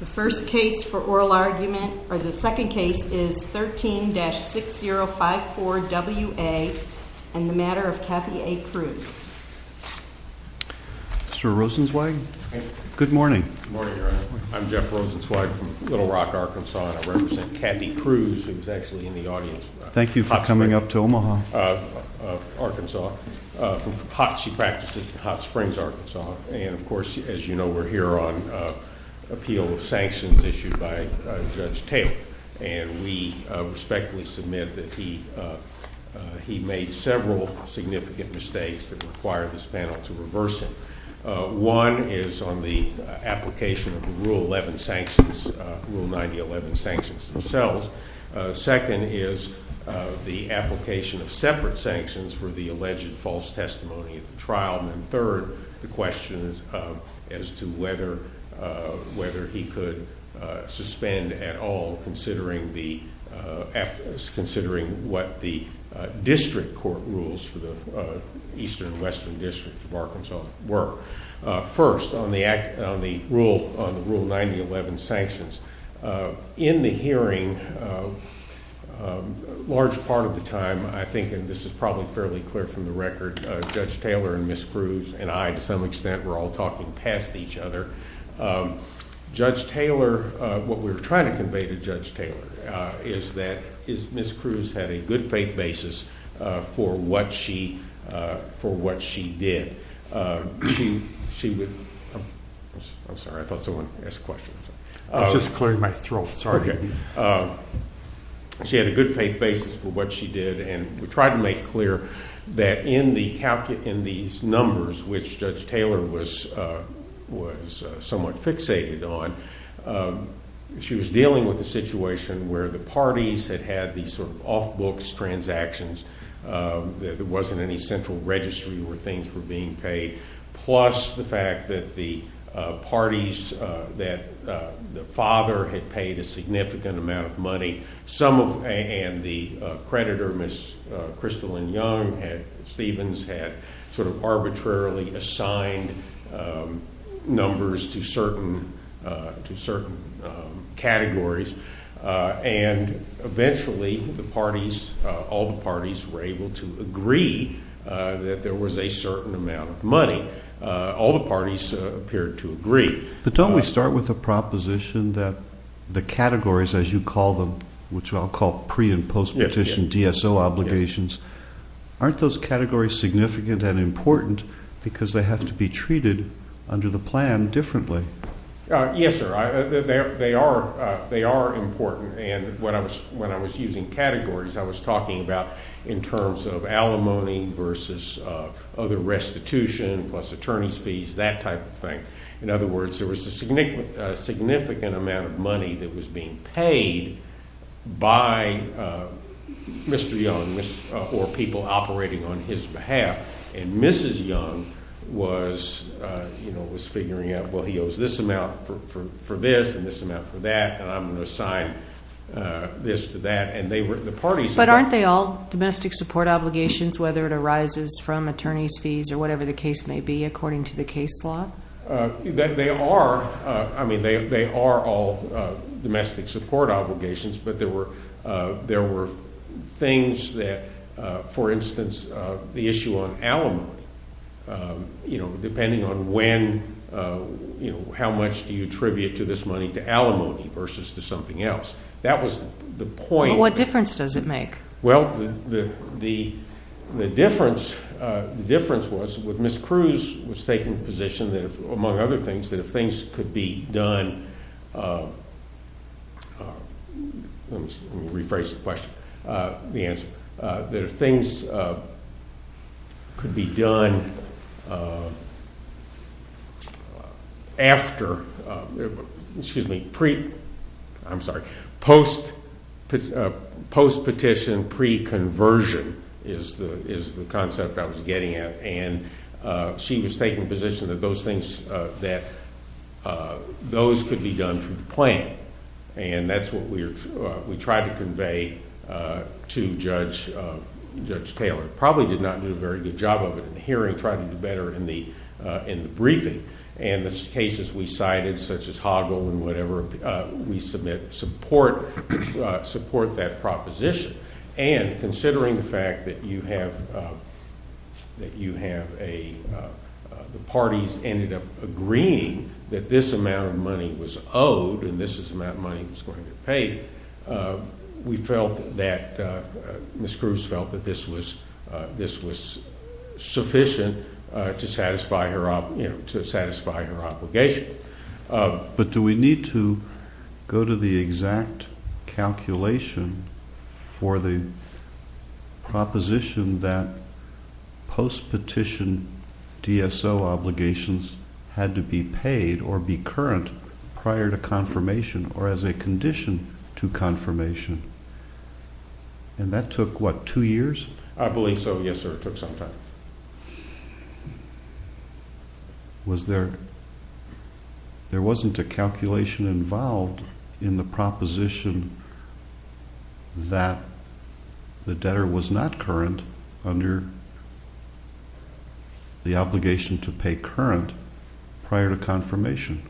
The first case for oral argument, or the second case, is 13-6054WA and the Matter of Kathy A. Cruz. Mr. Rosenzweig, good morning. Good morning, Your Honor. I'm Jeff Rosenzweig from Little Rock, Arkansas, and I represent Kathy Cruz, who is actually in the audience. Thank you for coming up to Omaha. She practices in Hot Springs, Arkansas. And, of course, as you know, we're here on appeal of sanctions issued by Judge Taylor. And we respectfully submit that he made several significant mistakes that require this panel to reverse him. One is on the application of the Rule 11 sanctions, Rule 9011 sanctions themselves. Second is the application of separate sanctions for the alleged false testimony at the trial. And third, the question as to whether he could suspend at all, considering what the district court rules for the eastern and western districts of Arkansas were. First, on the Rule 9011 sanctions, in the hearing, a large part of the time, I think, and this is probably fairly clear from the record, Judge Taylor and Ms. Cruz and I, to some extent, were all talking past each other. Judge Taylor, what we were trying to convey to Judge Taylor, is that Ms. Cruz had a good faith basis for what she did. She would, I'm sorry, I thought someone asked a question. I was just clearing my throat, sorry. Okay. She had a good faith basis for what she did. And we tried to make clear that in these numbers, which Judge Taylor was somewhat fixated on, she was dealing with a situation where the parties had had these sort of off-books transactions, there wasn't any central registry where things were being paid, plus the fact that the parties, that the father had paid a significant amount of money, and the creditor, Ms. Crystal and Young, Stevens, had sort of arbitrarily assigned numbers to certain categories, and eventually the parties, all the parties, were able to agree that there was a certain amount of money. All the parties appeared to agree. But don't we start with the proposition that the categories, as you call them, which I'll call pre- and post-petition DSO obligations, aren't those categories significant and important because they have to be treated under the plan differently? Yes, sir. They are important, and when I was using categories, I was talking about in terms of alimony versus other restitution plus attorney's fees, that type of thing. In other words, there was a significant amount of money that was being paid by Mr. Young or people operating on his behalf, and Mrs. Young was figuring out, well, he owes this amount for this and this amount for that, and I'm going to assign this to that. But aren't they all domestic support obligations, whether it arises from attorney's fees or whatever the case may be according to the case law? They are. I mean, they are all domestic support obligations, but there were things that, for instance, the issue on alimony, you know, depending on when, you know, how much do you attribute to this money to alimony versus to something else. That was the point. What difference does it make? Well, the difference was with Ms. Cruz was taking the position that, among other things, that if things could be done, let me rephrase the question, the answer, that if things could be done after, excuse me, pre, I'm sorry, post-petition, pre-conversion is the concept I was getting at. And she was taking the position that those things, that those could be done through the plan, and that's what we tried to convey to Judge Taylor. Probably did not do a very good job of it in the hearing, tried to do better in the briefing. And the cases we cited, such as Hoggle and whatever, we submit support that proposition. And considering the fact that you have a, the parties ended up agreeing that this amount of money was owed, and this is the amount of money that was going to be paid, we felt that Ms. Cruz felt that this was sufficient to satisfy her obligation. But do we need to go to the exact calculation for the proposition that post-petition DSO obligations had to be paid or be current prior to confirmation or as a condition to confirmation? And that took, what, two years? I believe so, yes, sir, it took some time. Was there, there wasn't a calculation involved in the proposition that the debtor was not current under the obligation to pay current prior to confirmation?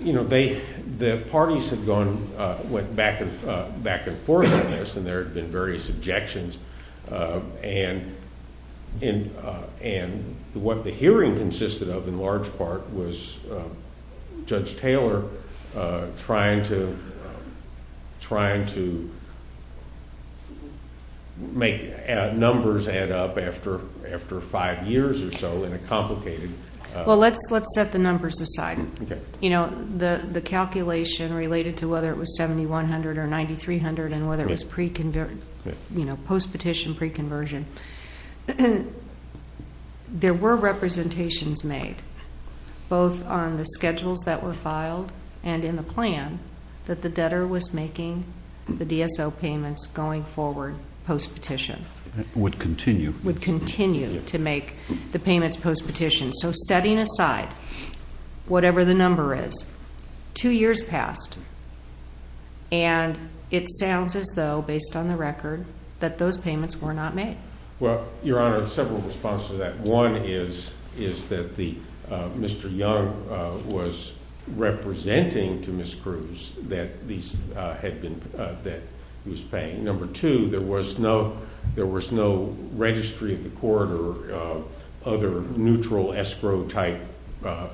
You know, they, the parties had gone, went back and forth on this, and there had been various objections. And what the hearing consisted of in large part was Judge Taylor trying to, trying to make numbers add up after five years or so in a complicated. Well, let's set the numbers aside. Okay. You know, the calculation related to whether it was 7,100 or 9,300 and whether it was pre-conversion, you know, post-petition pre-conversion, there were representations made both on the schedules that were filed and in the plan that the debtor was making the DSO payments going forward post-petition. Would continue. Would continue to make the payments post-petition. So setting aside whatever the number is, two years passed, and it sounds as though based on the record that those payments were not made. Well, Your Honor, several responses to that. One is that the, Mr. Young was representing to Ms. Cruz that these had been, that he was paying. Number two, there was no registry of the court or other neutral escrow type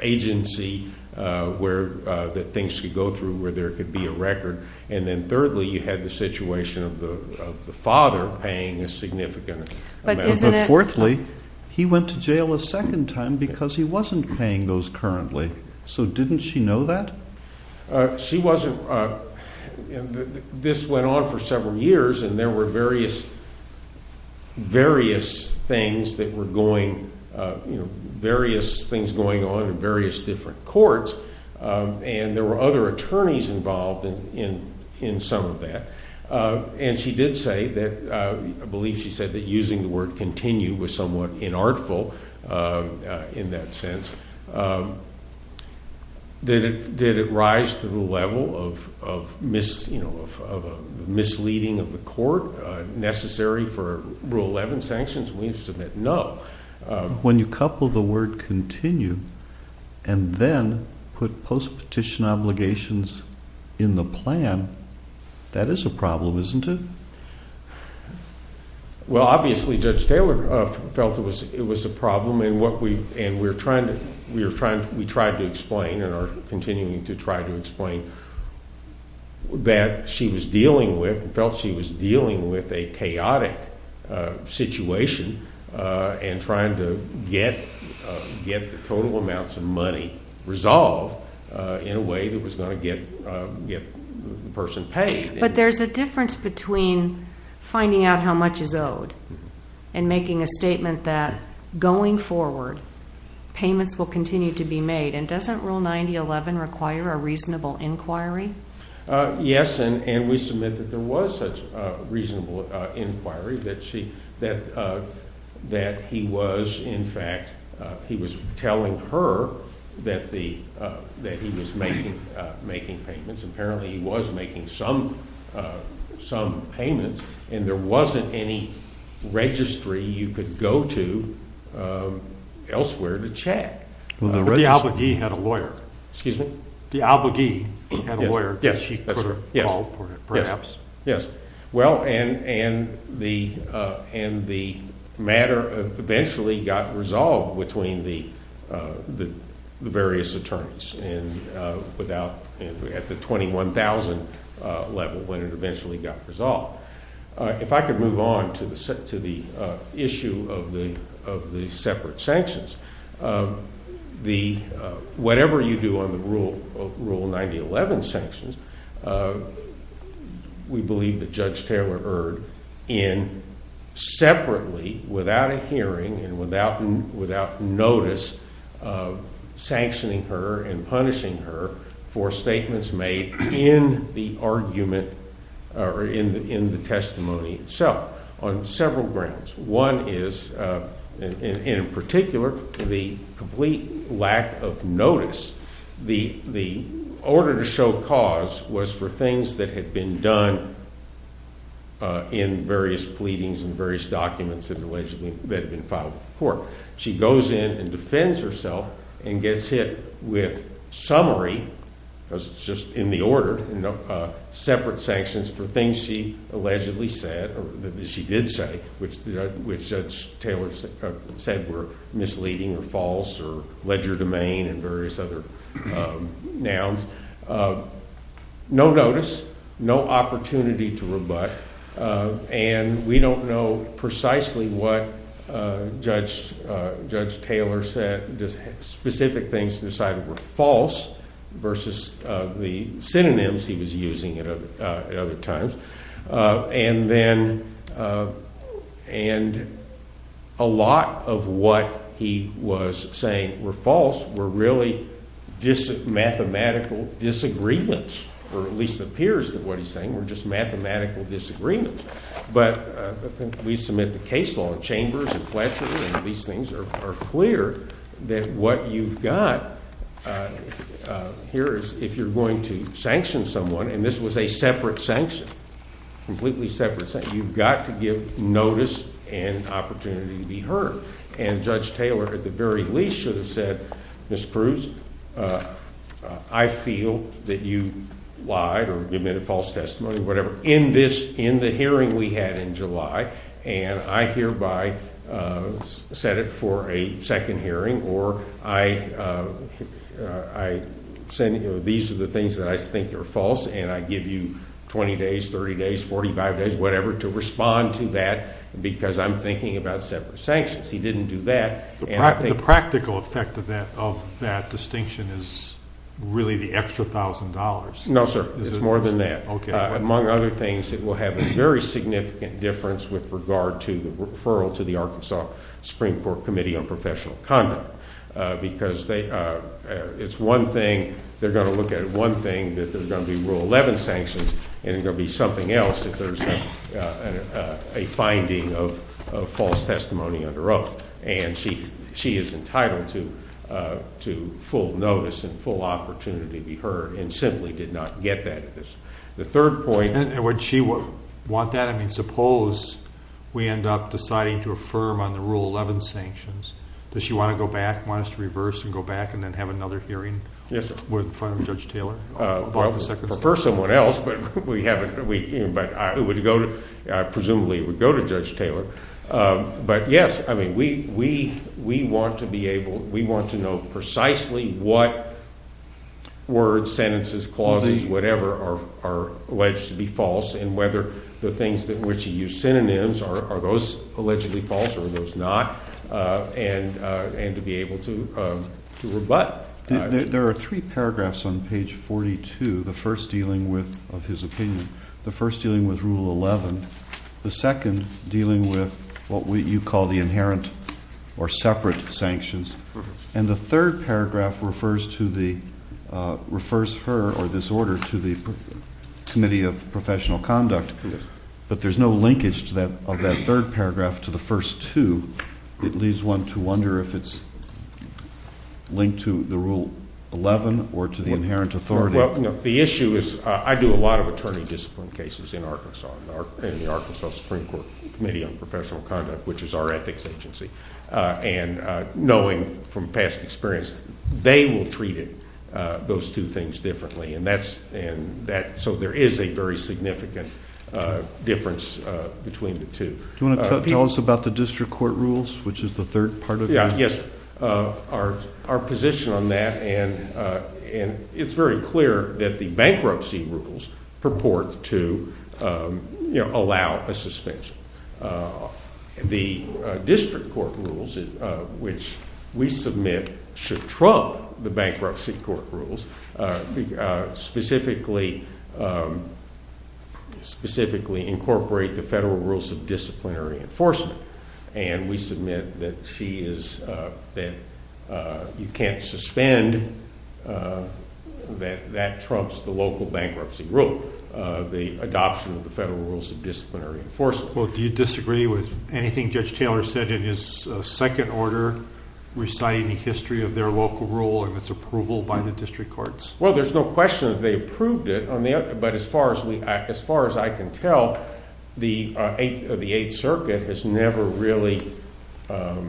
agency that things could go through where there could be a record. And then thirdly, you had the situation of the father paying a significant amount. But isn't it. Fourthly, he went to jail a second time because he wasn't paying those currently. So didn't she know that? She wasn't. This went on for several years, and there were various things that were going, various things going on in various different courts, and there were other attorneys involved in some of that. And she did say that, I believe she said that using the word continue was somewhat inartful in that sense. Did it rise to the level of misleading of the court necessary for Rule 11 sanctions? We submit no. When you couple the word continue and then put post-petition obligations in the plan, that is a problem, isn't it? Well, obviously Judge Taylor felt it was a problem, and we're trying to explain and are continuing to try to explain that she was dealing with, felt she was dealing with a chaotic situation and trying to get the total amounts of money resolved in a way that was going to get the person paid. But there's a difference between finding out how much is owed and making a statement that going forward, payments will continue to be made. And doesn't Rule 9011 require a reasonable inquiry? Yes, and we submit that there was such a reasonable inquiry that she, that he was, in fact, he was telling her that he was making payments. Apparently, he was making some payments, and there wasn't any registry you could go to elsewhere to check. But the obligee had a lawyer. Excuse me? The obligee had a lawyer. Yes, that's right. She could have called perhaps. Yes. Well, and the matter eventually got resolved between the various attorneys and without, at the 21,000 level, when it eventually got resolved. If I could move on to the issue of the separate sanctions, the, whatever you do on the Rule 9011 sanctions, we believe that Judge Taylor erred in separately, without a hearing and without notice, sanctioning her and punishing her for statements made in the argument or in the testimony itself on several grounds. One is, and in particular, the complete lack of notice. The order to show cause was for things that had been done in various pleadings and various documents that had been filed before. She goes in and defends herself and gets hit with summary, because it's just in the order, separate sanctions for things she allegedly said or that she did say, which Judge Taylor said were misleading or false or ledger domain and various other nouns. No notice, no opportunity to rebut, and we don't know precisely what Judge Taylor said. Specific things decided were false versus the synonyms he was using at other times. And then, and a lot of what he was saying were false were really mathematical disagreements, or at least it appears that what he's saying were just mathematical disagreements. But we submit the case law in Chambers and Fletcher, and these things are clear, that what you've got here is if you're going to sanction someone, and this was a separate sanction, completely separate sanction, you've got to give notice and opportunity to be heard. And Judge Taylor, at the very least, should have said, Ms. Cruz, I feel that you lied or give me a false testimony, whatever, in this, in the hearing we had in July, and I hereby set it for a second hearing, or I send you, these are the things that I think are false, and I give you 20 days, 30 days, 45 days, whatever, to respond to that because I'm thinking about separate sanctions. He didn't do that. The practical effect of that distinction is really the extra $1,000. No, sir, it's more than that. Okay. Among other things, it will have a very significant difference with regard to the referral to the Arkansas Supreme Court Committee on Professional Conduct because they, it's one thing, they're going to look at it one thing, that there's going to be Rule 11 sanctions, and there will be something else if there's a finding of false testimony under oath. And she is entitled to full notice and full opportunity to be heard and simply did not get that. The third point. And would she want that? I mean, suppose we end up deciding to affirm on the Rule 11 sanctions. Does she want to go back, want us to reverse and go back and then have another hearing? Yes, sir. In front of Judge Taylor? Well, prefer someone else, but we haven't, but I would go to, I presumably would go to Judge Taylor. But, yes, I mean, we want to be able, we want to know precisely what words, sentences, clauses, whatever are alleged to be false and whether the things in which you use synonyms, are those allegedly false or are those not, and to be able to rebut. There are three paragraphs on page 42, the first dealing with, of his opinion. The first dealing with Rule 11. The second dealing with what you call the inherent or separate sanctions. And the third paragraph refers to the, refers her or this order to the Committee of Professional Conduct. But there's no linkage of that third paragraph to the first two. It leaves one to wonder if it's linked to the Rule 11 or to the inherent authority. Well, the issue is, I do a lot of attorney discipline cases in Arkansas, in the Arkansas Supreme Court Committee on Professional Conduct, which is our ethics agency. And knowing from past experience, they will treat it, those two things differently. And that's, and that, so there is a very significant difference between the two. Do you want to tell us about the district court rules, which is the third part of it? Yes, our position on that, and it's very clear that the bankruptcy rules purport to, you know, allow a suspension. The district court rules, which we submit should trump the bankruptcy court rules, specifically incorporate the federal rules of disciplinary enforcement. And we submit that she is, that you can't suspend, that that trumps the local bankruptcy rule, the adoption of the federal rules of disciplinary enforcement. Well, do you disagree with anything Judge Taylor said in his second order reciting the history of their local rule and its approval by the district courts? Well, there's no question that they approved it. But as far as I can tell, the Eighth Circuit has never really dealt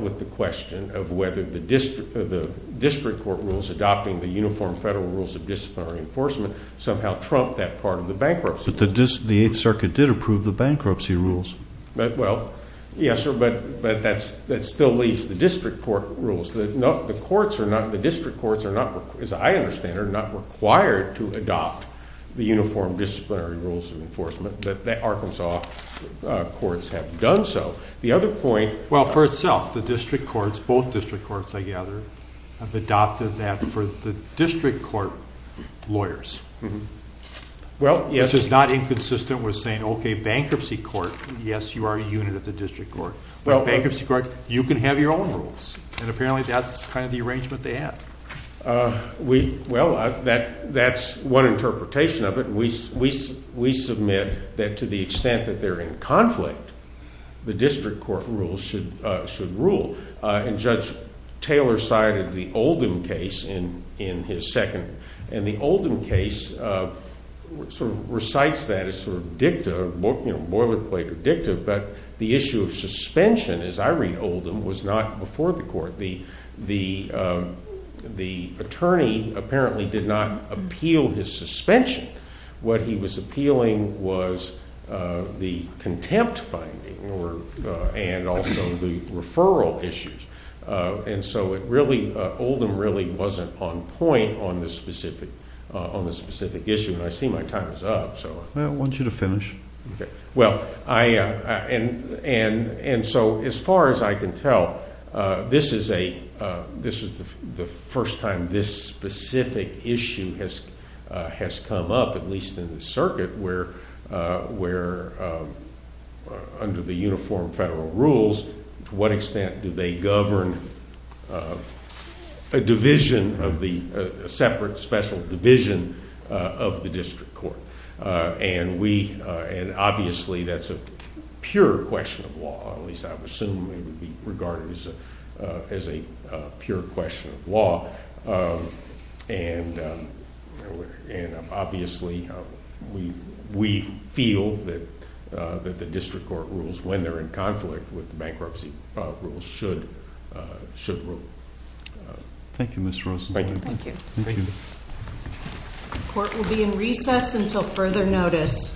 with the question of whether the district court rules adopting the uniform federal rules of disciplinary enforcement somehow trump that part of the bankruptcy. But the Eighth Circuit did approve the bankruptcy rules. Well, yes, sir, but that still leaves the district court rules. The courts are not, the district courts, as I understand, are not required to adopt the uniform disciplinary rules of enforcement. The Arkansas courts have done so. The other point. Well, for itself, the district courts, both district courts, I gather, have adopted that for the district court lawyers. Which is not inconsistent with saying, okay, bankruptcy court, yes, you are a unit of the district court. But bankruptcy court, you can have your own rules. And apparently that's kind of the arrangement they have. Well, that's one interpretation of it. We submit that to the extent that they're in conflict, the district court rules should rule. And Judge Taylor cited the Oldham case in his second. And the Oldham case sort of recites that as sort of dicta, boilerplate or dicta. But the issue of suspension, as I read Oldham, was not before the court. The attorney apparently did not appeal his suspension. What he was appealing was the contempt finding and also the referral issues. And so it really, Oldham really wasn't on point on this specific issue. And I see my time is up. I want you to finish. Okay. Well, and so as far as I can tell, this is the first time this specific issue has come up, at least in the circuit, where under the uniform federal rules, to what extent do they govern a division of the separate special division of the district court? And obviously that's a pure question of law. At least I would assume it would be regarded as a pure question of law. And obviously we feel that the district court rules, when they're in conflict with bankruptcy rules, should rule. Thank you, Mr. Rosen. Thank you. Thank you. The court will be in recess until further notice.